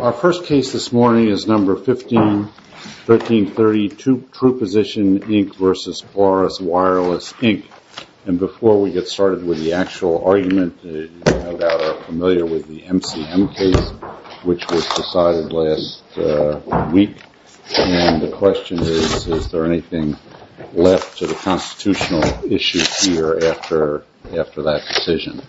Our first case this morning is number 151330, TruePosition Inc. v. Polaris Wireless, Inc. And before we get started with the actual argument, you no doubt are familiar with the MCM case, which was decided last week. And the question is, is there anything left to the constitutional issue here after that decision?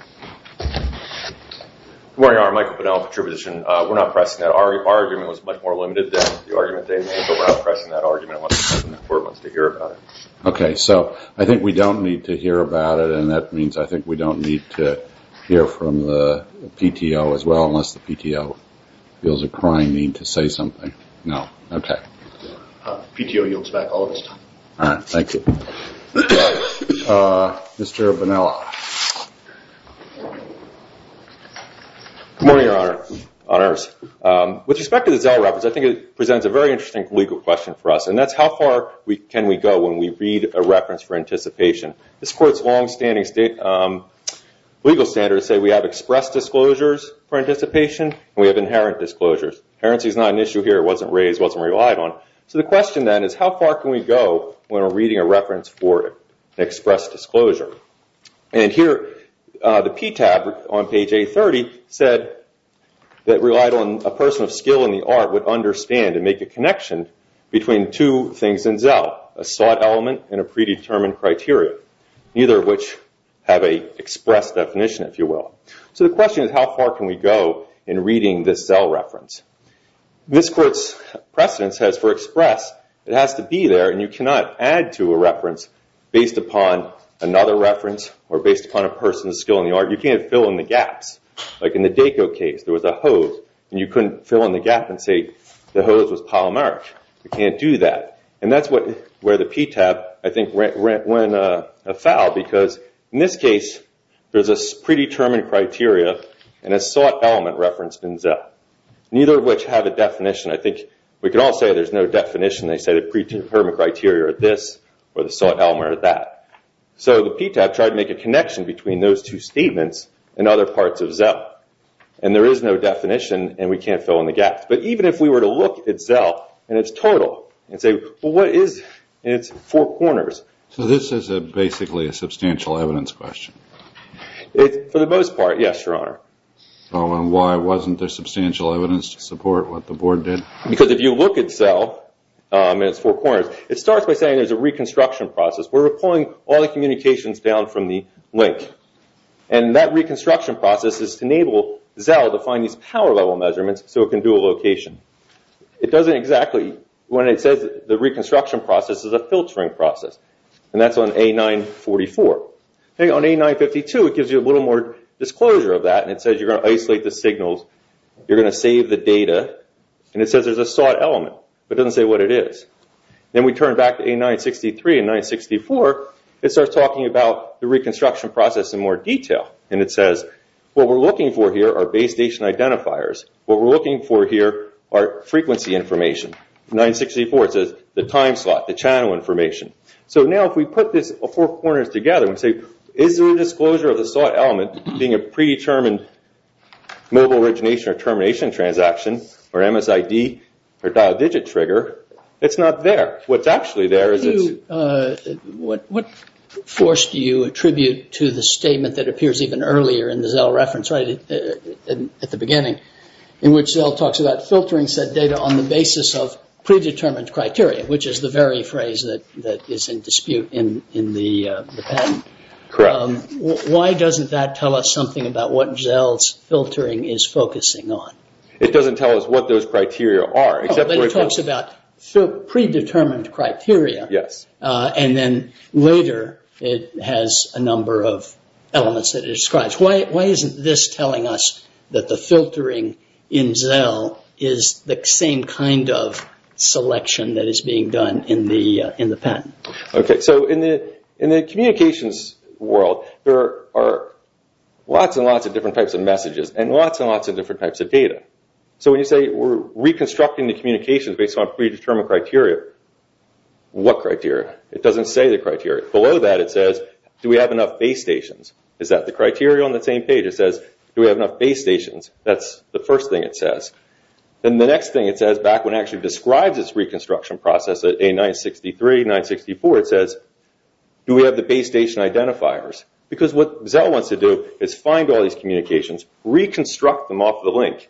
Good morning, I'm Michael Bonnella from TruePosition. We're not pressing that argument. Our argument was much more limited than the argument they made, but we're not pressing that argument unless the court wants to hear about it. Okay, so I think we don't need to hear about it, and that means I think we don't need to hear from the PTO as well, unless the PTO feels a crying need to say something. No? Okay. The PTO yields back all of its time. All right, thank you. Mr. Bonnella. Good morning, Your Honor, Honors. With respect to the Zell Reference, I think it presents a very interesting legal question for us, and that's how far can we go when we read a reference for anticipation? This Court's longstanding legal standards say we have expressed disclosures for anticipation, and we have inherent disclosures. Inherency is not an issue here. It wasn't raised, wasn't relied on. So the question, then, is how far can we go when we're reading a reference for an expressed disclosure? And here, the PTAB on page A30 said that relied on a person of skill in the art would understand and make a connection between two things in Zell, a sought element and a predetermined criteria, neither of which have an expressed definition, if you will. So the question is how far can we go in reading this Zell Reference? This Court's precedence says for express, it has to be there, and you cannot add to a reference based upon another reference or based upon a person's skill in the art. You can't fill in the gaps. Like in the DACO case, there was a hose, and you couldn't fill in the gap and say the hose was polymeric. You can't do that. And that's where the PTAB, I think, went afoul, because in this case, there's a predetermined criteria and a sought element referenced in Zell. Neither of which have a definition. I think we could all say there's no definition. They say the predetermined criteria are this or the sought element are that. So the PTAB tried to make a connection between those two statements and other parts of Zell. And there is no definition, and we can't fill in the gaps. But even if we were to look at Zell in its total and say, well, what is in its four corners? So this is basically a substantial evidence question? For the most part, yes, Your Honor. Why wasn't there substantial evidence to support what the board did? Because if you look at Zell in its four corners, it starts by saying there's a reconstruction process. We're pulling all the communications down from the link. And that reconstruction process is to enable Zell to find these power level measurements so it can do a location. It doesn't exactly, when it says the reconstruction process, it's a filtering process. And that's on A944. On A952, it gives you a little more disclosure of that. And it says you're going to isolate the signals. You're going to save the data. And it says there's a sought element. But it doesn't say what it is. Then we turn back to A963 and 964. It starts talking about the reconstruction process in more detail. And it says what we're looking for here are base station identifiers. What we're looking for here are frequency information. 964 says the time slot, the channel information. So now if we put these four corners together and say, is there a disclosure of the sought element being a predetermined mobile origination or termination transaction, or MSID, or dial digit trigger, it's not there. What's actually there is it's... What force do you attribute to the statement that appears even earlier in the Zell reference, right, at the beginning, in which Zell talks about filtering said data on the basis of predetermined criteria, which is the very phrase that is in dispute in the patent. Correct. Why doesn't that tell us something about what Zell's filtering is focusing on? It doesn't tell us what those criteria are. But it talks about predetermined criteria. Yes. And then later it has a number of elements that it describes. Why isn't this telling us that the filtering in Zell is the same kind of selection that is being done in the patent? Okay. So in the communications world, there are lots and lots of different types of messages and lots and lots of different types of data. So when you say we're reconstructing the communications based on predetermined criteria, what criteria? It doesn't say the criteria. Below that it says, do we have enough base stations? Is that the criteria on the same page? It says, do we have enough base stations? That's the first thing it says. Then the next thing it says, back when it actually describes its reconstruction process at A963, 964, it says, do we have the base station identifiers? Because what Zell wants to do is find all these communications, reconstruct them off the link,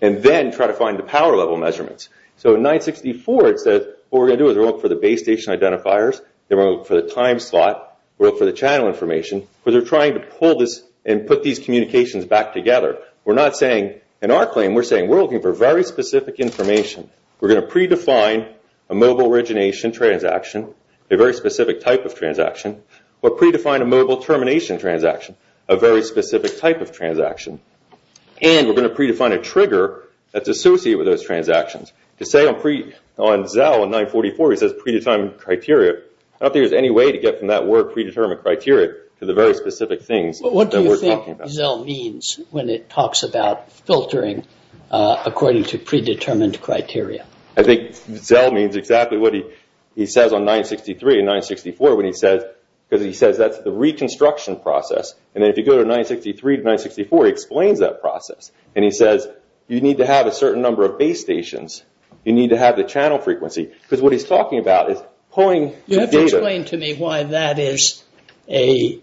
and then try to find the power level measurements. So in 964 it says, what we're going to do is we're going to look for the base station identifiers, then we're going to look for the time slot, we're going to look for the channel information, because they're trying to pull this and put these communications back together. We're not saying, in our claim, we're saying we're looking for very specific information. We're going to predefine a mobile origination transaction, a very specific type of transaction, or predefine a mobile termination transaction, a very specific type of transaction. And we're going to predefine a trigger that's associated with those transactions. To say on Zell in 944 it says predetermined criteria, I don't think there's any way to get from that word predetermined criteria to the very specific things that we're talking about. What do you think Zell means when it talks about filtering according to predetermined criteria? I think Zell means exactly what he says on 963 and 964 when he says, because he says that's the reconstruction process. And then if you go to 963 to 964 he explains that process. And he says you need to have a certain number of base stations. You need to have the channel frequency. Because what he's talking about is pulling data. You have to explain to me why that is a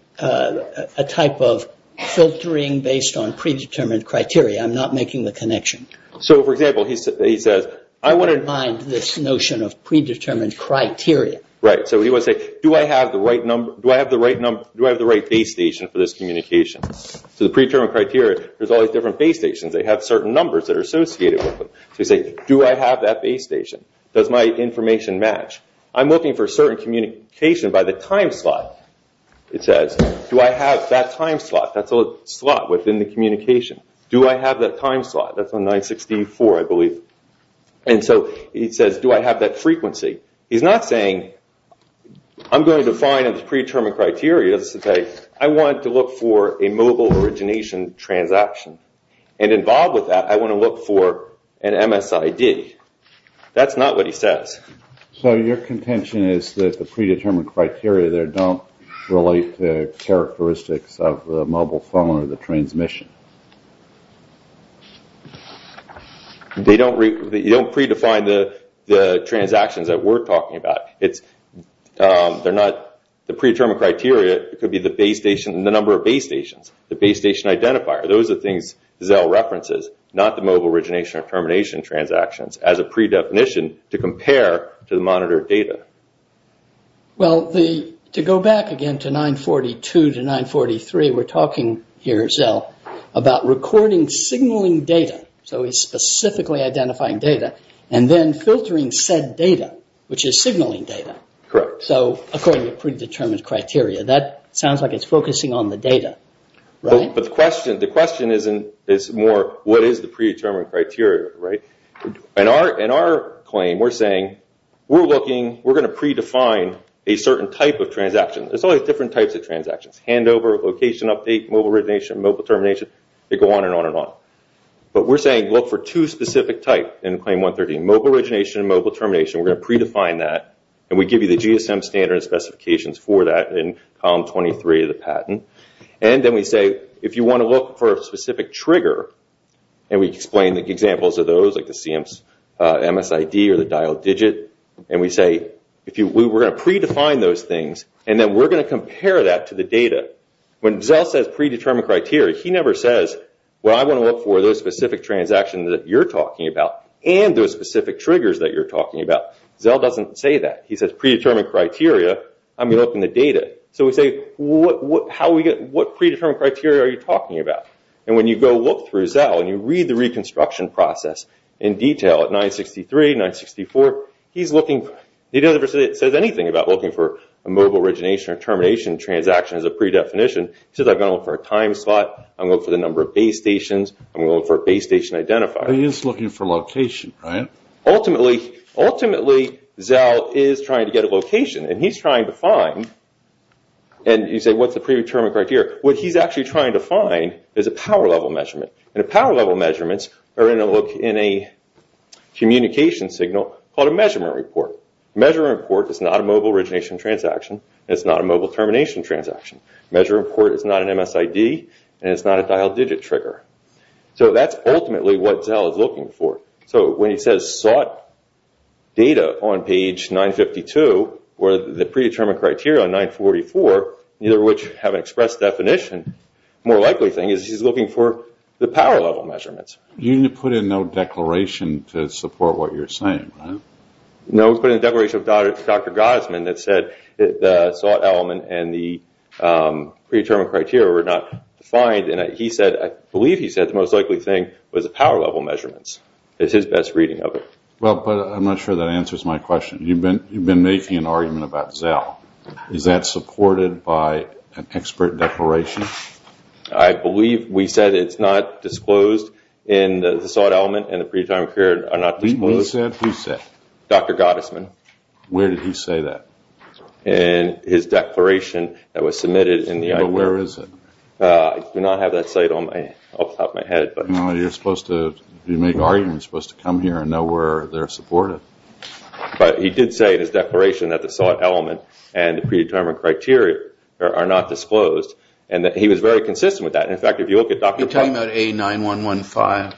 type of filtering based on predetermined criteria. I'm not making the connection. So, for example, he says I want to... I don't mind this notion of predetermined criteria. Right. So he wants to say, do I have the right base station for this communication? So the predetermined criteria, there's all these different base stations. They have certain numbers that are associated with them. So you say, do I have that base station? Does my information match? I'm looking for certain communication by the time slot, it says. Do I have that time slot? That's a slot within the communication. Do I have that time slot? That's on 964, I believe. And so he says, do I have that frequency? He's not saying I'm going to define a predetermined criteria. I want to look for a mobile origination transaction. And involved with that, I want to look for an MSID. That's not what he says. So your contention is that the predetermined criteria there don't relate to characteristics of the mobile phone or the transmission? They don't... You don't predefine the transactions that we're talking about. They're not... The predetermined criteria could be the base station and the number of base stations, the base station identifier. Those are things Zell references, not the mobile origination or termination transactions, as a predefinition to compare to the monitored data. Well, to go back again to 942 to 943, we're talking here, Zell, about recording signaling data, so he's specifically identifying data, and then filtering said data, which is signaling data. Correct. So according to predetermined criteria, that sounds like it's focusing on the data, right? But the question is more, what is the predetermined criteria, right? In our claim, we're saying we're looking, we're going to predefine a certain type of transaction. There's all these different types of transactions, handover, location update, mobile origination, mobile termination. They go on and on and on. But we're saying look for two specific types in Claim 113, mobile origination and mobile termination. We're going to predefine that, and we give you the GSM standards specifications for that in Column 23 of the patent. And then we say if you want to look for a specific trigger, and we explain the examples of those, like the CMSID or the dialed digit, and we say we're going to predefine those things, and then we're going to compare that to the data. When Zell says predetermined criteria, he never says well I want to look for those specific transactions that you're talking about and those specific triggers that you're talking about. Zell doesn't say that. He says predetermined criteria, I'm going to look in the data. So we say what predetermined criteria are you talking about? And when you go look through Zell and you read the reconstruction process in detail at 963, 964, he doesn't say anything about looking for a mobile origination or termination transaction as a predefinition. He says I'm going to look for a time slot, I'm going to look for the number of base stations, I'm going to look for a base station identifier. He's looking for location, right? Ultimately, Zell is trying to get a location, and he's trying to find, and you say what's the predetermined criteria? What he's actually trying to find is a power level measurement, and power level measurements are in a communication signal called a measurement report. A measurement report is not a mobile origination transaction, and it's not a mobile termination transaction. A measurement report is not an MSID, and it's not a dialed digit trigger. So that's ultimately what Zell is looking for. So when he says sought data on page 952, or the predetermined criteria on 944, neither of which have an expressed definition, the more likely thing is he's looking for the power level measurements. You didn't put in no declaration to support what you're saying, right? No, we put in a declaration of Dr. Gottesman that said the sought element and the predetermined criteria were not defined, and I believe he said the most likely thing was the power level measurements. It's his best reading of it. I'm not sure that answers my question. You've been making an argument about Zell. Is that supported by an expert declaration? I believe we said it's not disclosed in the sought element and the predetermined criteria are not disclosed. Who said? Dr. Gottesman. Where did he say that? In his declaration that was submitted. Where is it? I do not have that cite off the top of my head. You're supposed to make arguments. You're supposed to come here and know where they're supported. But he did say in his declaration that the sought element and the predetermined criteria are not disclosed, and that he was very consistent with that. You're talking about A9-115. Yeah.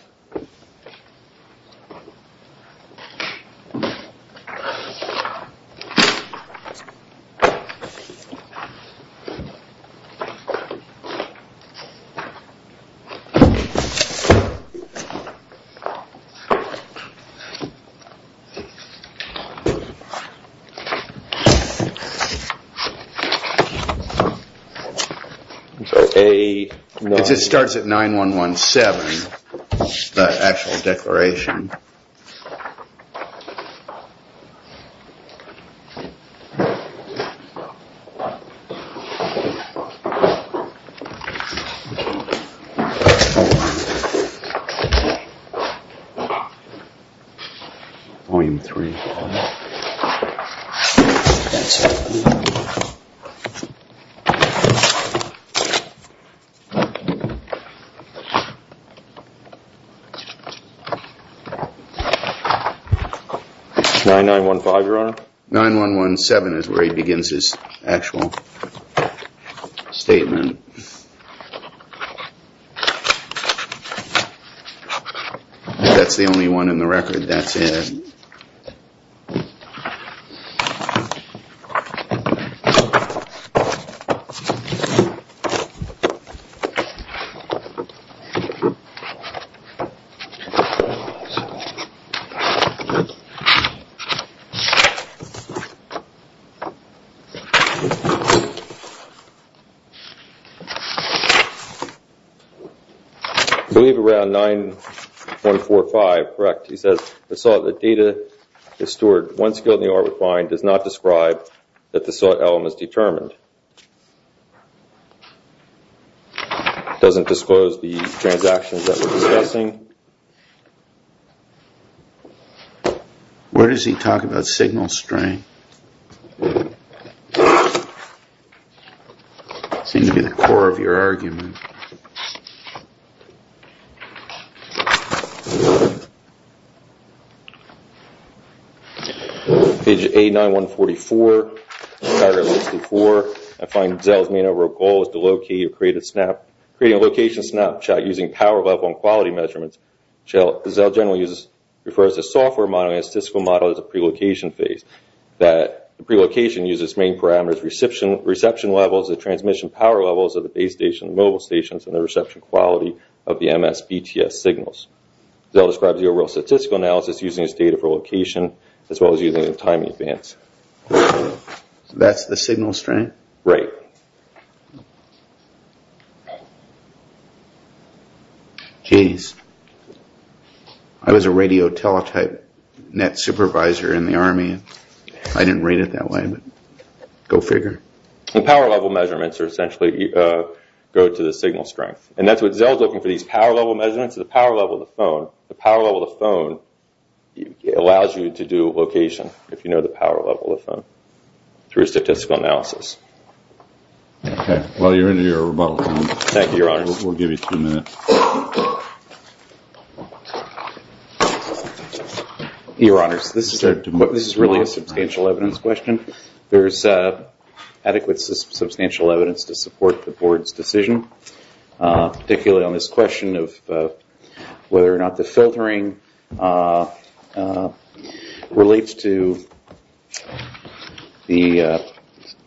A. It starts at 9-1-1-7, the actual declaration. 9-1-1-7. Volume 3. That's it. 9-1-1-5, Your Honor? 9-1-1-7 is where he begins his actual statement. That's the only one in the record. That's it. I believe around 9-1-4-5, correct? He says, the sought data is stored. One skill in the arbitrary does not describe that the sought element is determined. It doesn't disclose the transactions that we're discussing. Where does he talk about signal strength? That seems to be the core of your argument. Page A9-1-44. I find Zell's main overall goal is to locate or create a location snapshot using power level and quality measurements. Zell generally refers to a software model and a statistical model as a pre-location phase. The pre-location uses main parameters, reception levels, the transmission power levels of the base station and mobile stations, and the reception quality of the MSBTS signals. Zell describes the overall statistical analysis using this data for location as well as using it in time advance. That's the signal strength? Right. Geez. I was a radio teletype net supervisor in the Army. I didn't read it that way, but go figure. The power level measurements essentially go to the signal strength. And that's what Zell's looking for, these power level measurements, the power level of the phone. The power level of the phone allows you to do location, if you know the power level of the phone, through statistical analysis. Okay. Well, you're into your rebuttal. Thank you, Your Honors. We'll give you two minutes. Your Honors, this is really a substantial evidence question. There's adequate substantial evidence to support the Board's decision, particularly on this question of whether or not the filtering relates to the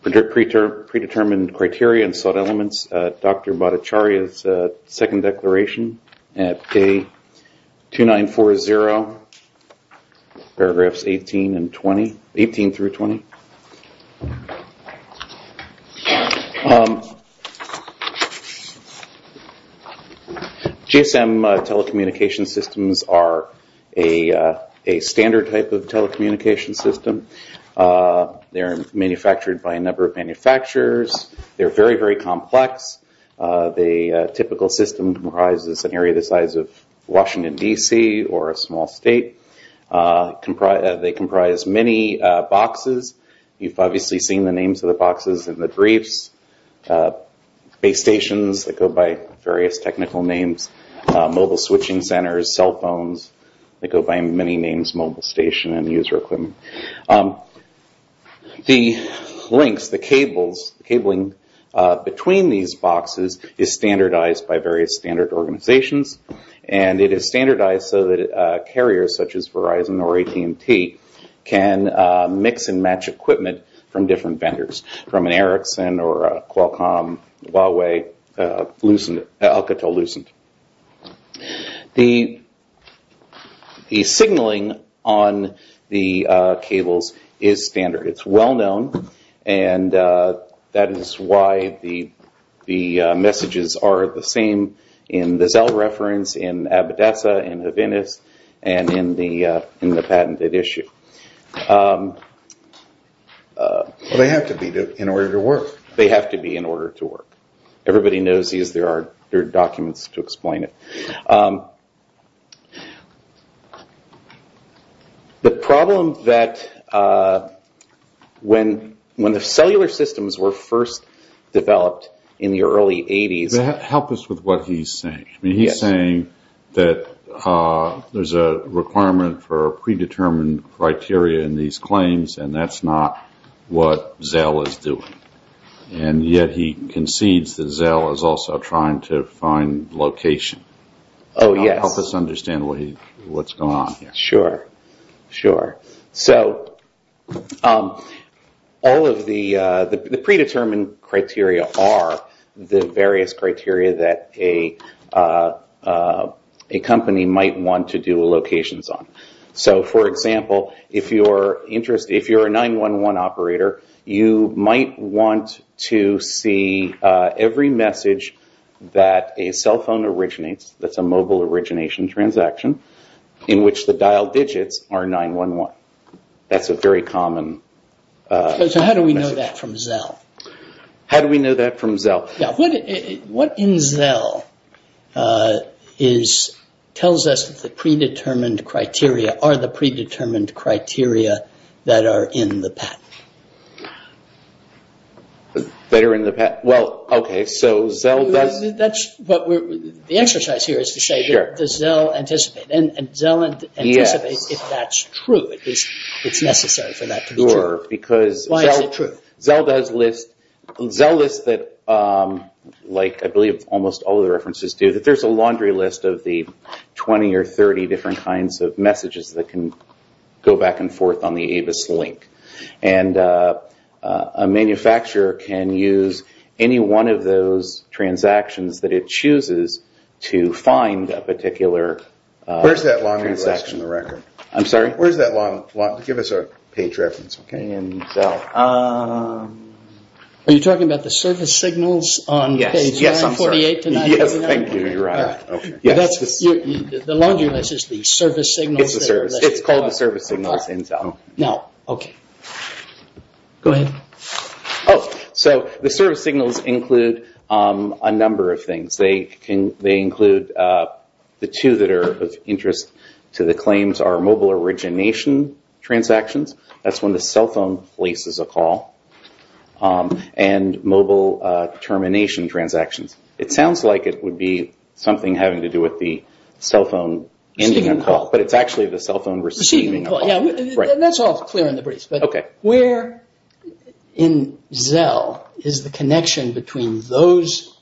predetermined criteria and sought elements. Dr. Bhattacharya's second declaration at K2940, paragraphs 18 through 20. GSM telecommunication systems are a standard type of telecommunication system. They're manufactured by a number of manufacturers. They're very, very complex. The typical system comprises an area the size of Washington, D.C., or a small state. They comprise many boxes. You've obviously seen the names of the boxes in the briefs, base stations that go by various technical names, mobile switching centers, cell phones that go by many names, mobile station and user equipment. The links, the cabling between these boxes is standardized by various standard organizations, and it is standardized so that carriers such as Verizon or AT&T can mix and match equipment from different vendors, from an Ericsson or a Qualcomm, Huawei, Alcatel-Lucent. The signaling on the cables is standard. It's well known, and that is why the messages are the same in the Zelle reference, in Abidessa, in the Venice, and in the patented issue. They have to be in order to work. They have to be in order to work. Everybody knows these. There are documents to explain it. The problem that when the cellular systems were first developed in the early 80s... Help us with what he's saying. He's saying that there's a requirement for predetermined criteria in these claims, and that's not what Zelle is doing. Yet he concedes that Zelle is also trying to find location. Oh, yes. Help us understand what's going on here. Sure, sure. All of the predetermined criteria are the various criteria that a company might want to do locations on. For example, if you're a 911 operator, you might want to see every message that a cell phone originates, that's a mobile origination transaction, in which the dial digits are 911. That's a very common message. How do we know that from Zelle? How do we know that from Zelle? What in Zelle tells us that the predetermined criteria are the predetermined criteria that are in the patent? The exercise here is to say, does Zelle anticipate? Zelle anticipates if that's true, if it's necessary for that to be true. Why is it true? Zelle lists, like I believe almost all of the references do, that there's a laundry list of the 20 or 30 different kinds of messages that can go back and forth on the AVIS link. A manufacturer can use any one of those transactions that it chooses to find a particular transaction. Where's that laundry list in the record? I'm sorry? Where's that laundry list? Give us a page reference. Are you talking about the service signals on page 148 to 149? Yes, I'm sorry. Thank you, you're right. The laundry list is the service signals. It's called the service signals in Zelle. The service signals include a number of things. They include the two that are of interest to the claims are mobile origination transactions, that's when the cell phone places a call, and mobile termination transactions. It sounds like it would be something having to do with the cell phone ending a call, but it's actually the cell phone receiving a call. That's all clear in the brief, but where in Zelle is the connection between those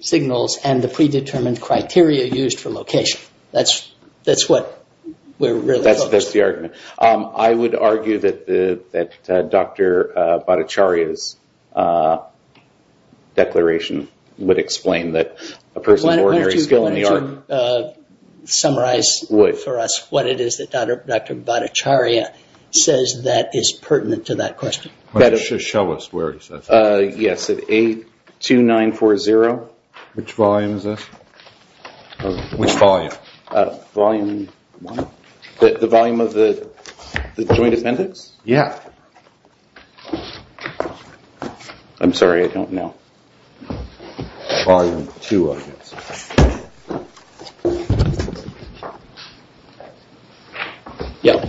signals and the predetermined criteria used for location? That's what we're really focused on. That's the argument. I would argue that Dr. Bhattacharya's declaration would explain that a person of ordinary skill in the art... Bhattacharya says that is pertinent to that question. Just show us where he says it is. Yes, at 82940. Which volume is this? Which volume? Volume one? The volume of the joint appendix? Yes. I'm sorry, I don't know. Volume two, I guess. Okay. Yeah.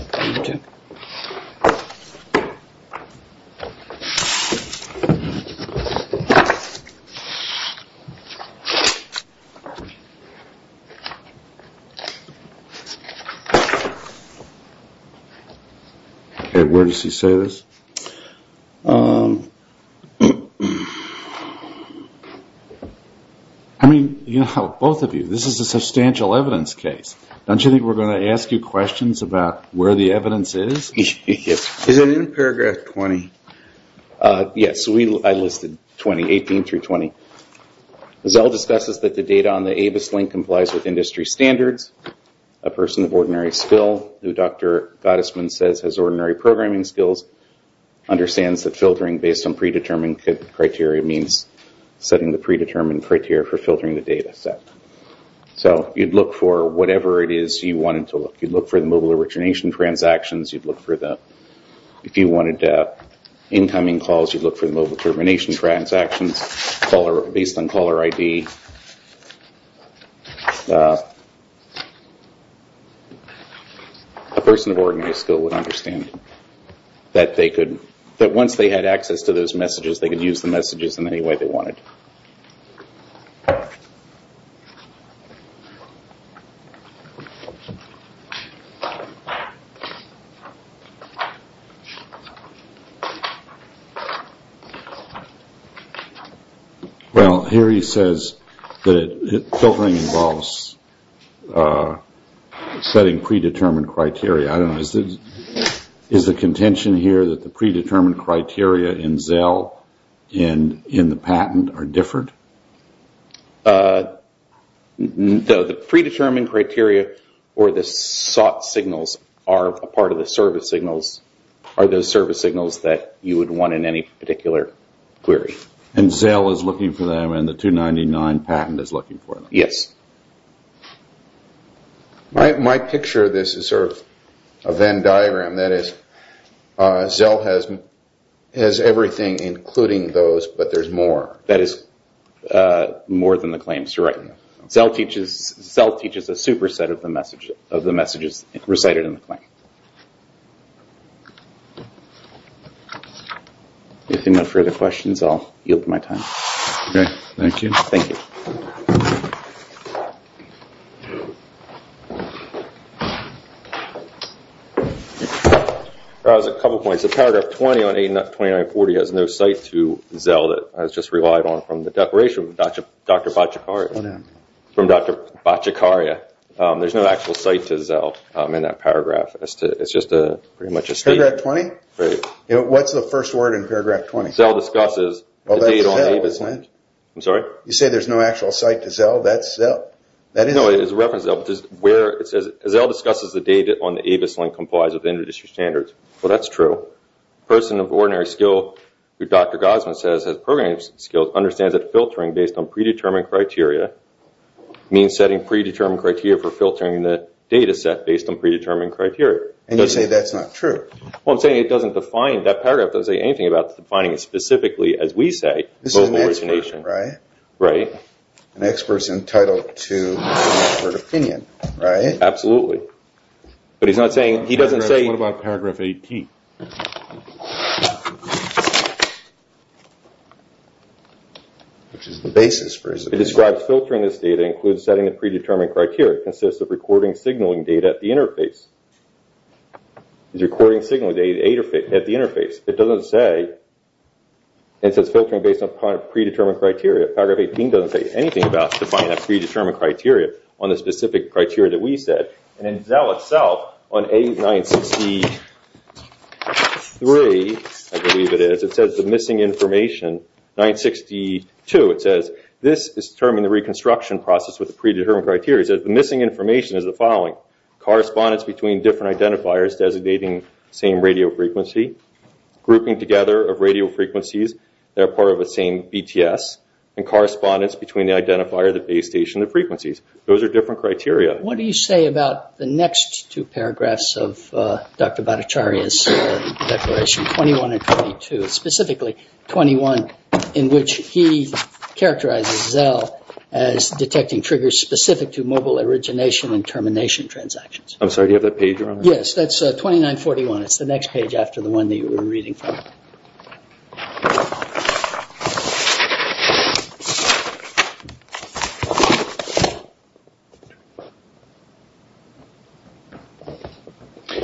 Where does he say this? I mean, you know, both of you, this is a substantial evidence case. Don't you think we're going to ask you questions about where the evidence is? Is it in paragraph 20? Yes, I listed 20, 18 through 20. Zelle discusses that the data on the ABIS link complies with industry standards. A person of ordinary skill, who Dr. Gottesman says has ordinary programming skills, understands that filtering based on predetermined criteria means setting the predetermined criteria for filtering the data set. So you'd look for whatever it is you wanted to look. You'd look for the mobile origination transactions. You'd look for the incoming calls. You'd look for the mobile termination transactions based on caller ID. A person of ordinary skill would understand that once they had access to those messages, they could use the messages in any way they wanted. Okay. Well, here he says that filtering involves setting predetermined criteria. Is the contention here that the predetermined criteria in Zelle and in the patent are different? The predetermined criteria or the sought signals are a part of the service signals, are the service signals that you would want in any particular query. And Zelle is looking for them and the 299 patent is looking for them? Yes. My picture of this is sort of a Venn diagram. That is, Zelle has everything including those, but there's more. That is more than the claims, you're right. Zelle teaches a superset of the messages recited in the claim. If there are no further questions, I'll yield my time. Okay, thank you. Thank you. Thank you. There's a couple of points. The paragraph 20 on 829.40 has no site to Zelle. That's just relied on from the declaration from Dr. Bacikaria. There's no actual site to Zelle in that paragraph. It's just pretty much a statement. Paragraph 20? Right. What's the first word in paragraph 20? Zelle discusses the data on Avis. I'm sorry? You say there's no actual site to Zelle? No, it's a reference to Zelle. It says, Zelle discusses the data on the Avis link complies with industry standards. Well, that's true. A person of ordinary skill, who Dr. Gosman says has programming skills, understands that filtering based on predetermined criteria means setting predetermined criteria for filtering the data set based on predetermined criteria. And you say that's not true? Well, I'm saying that paragraph doesn't say anything about defining specifically, as we say, local origination. Right. Right. An expert's entitled to an expert opinion, right? Absolutely. But he's not saying, he doesn't say. What about paragraph 18? Which is the basis for his opinion. It describes filtering this data includes setting the predetermined criteria. It consists of recording signaling data at the interface. It's recording signaling data at the interface. It doesn't say, it says filtering based on predetermined criteria. Paragraph 18 doesn't say anything about defining a predetermined criteria on the specific criteria that we said. And in Zelle itself, on A963, I believe it is, it says the missing information, 962 it says, this is to determine the reconstruction process with the predetermined criteria. It says the missing information is the following. Correspondence between different identifiers designating the same radio frequency. Grouping together of radio frequencies that are part of the same BTS. And correspondence between the identifier, the base station, and the frequencies. Those are different criteria. What do you say about the next two paragraphs of Dr. Bhattacharya's declaration, 21 and 22? Specifically, 21, in which he characterizes Zelle as detecting triggers specific to mobile origination and termination transactions. I'm sorry, do you have that page around? Yes, that's 2941. It's the next page after the one that you were reading from.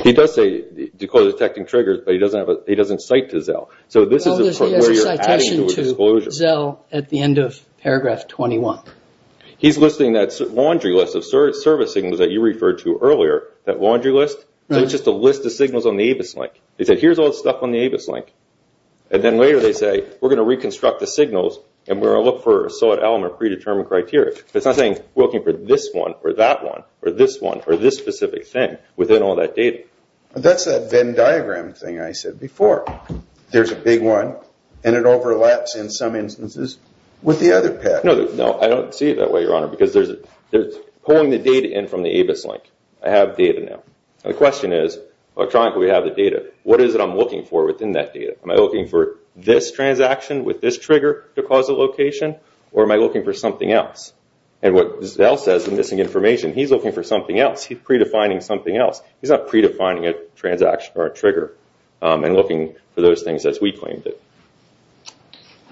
He does say detecting triggers, but he doesn't cite to Zelle. So this is where you're adding to his disclosure. He has a citation to Zelle at the end of paragraph 21. He's listing that laundry list of service signals that you referred to earlier, that laundry list. So it's just a list of signals on the ABIS link. He said, here's all the stuff on the ABIS link. And then later they say, we're going to reconstruct the signals and we're going to look for a solid element predetermined criteria. It's not saying looking for this one or that one or this one or this specific thing within all that data. That's that Venn diagram thing I said before. There's a big one, and it overlaps in some instances with the other pack. No, I don't see it that way, Your Honor, because they're pulling the data in from the ABIS link. I have data now. The question is, electronically we have the data. What is it I'm looking for within that data? Am I looking for this transaction with this trigger to cause a location, or am I looking for something else? And what Zelle says in missing information, he's looking for something else. He's predefining something else. He's not predefining a transaction or a trigger and looking for those things as we claimed it.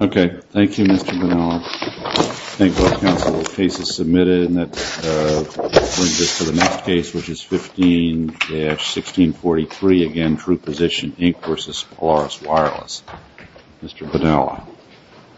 Okay. Thank you, Mr. Van Allen. Thank you, counsel. The case is submitted, and that brings us to the next case, which is 15-1643. Again, true position, Inc. versus Polaris Wireless. Mr. Van Allen.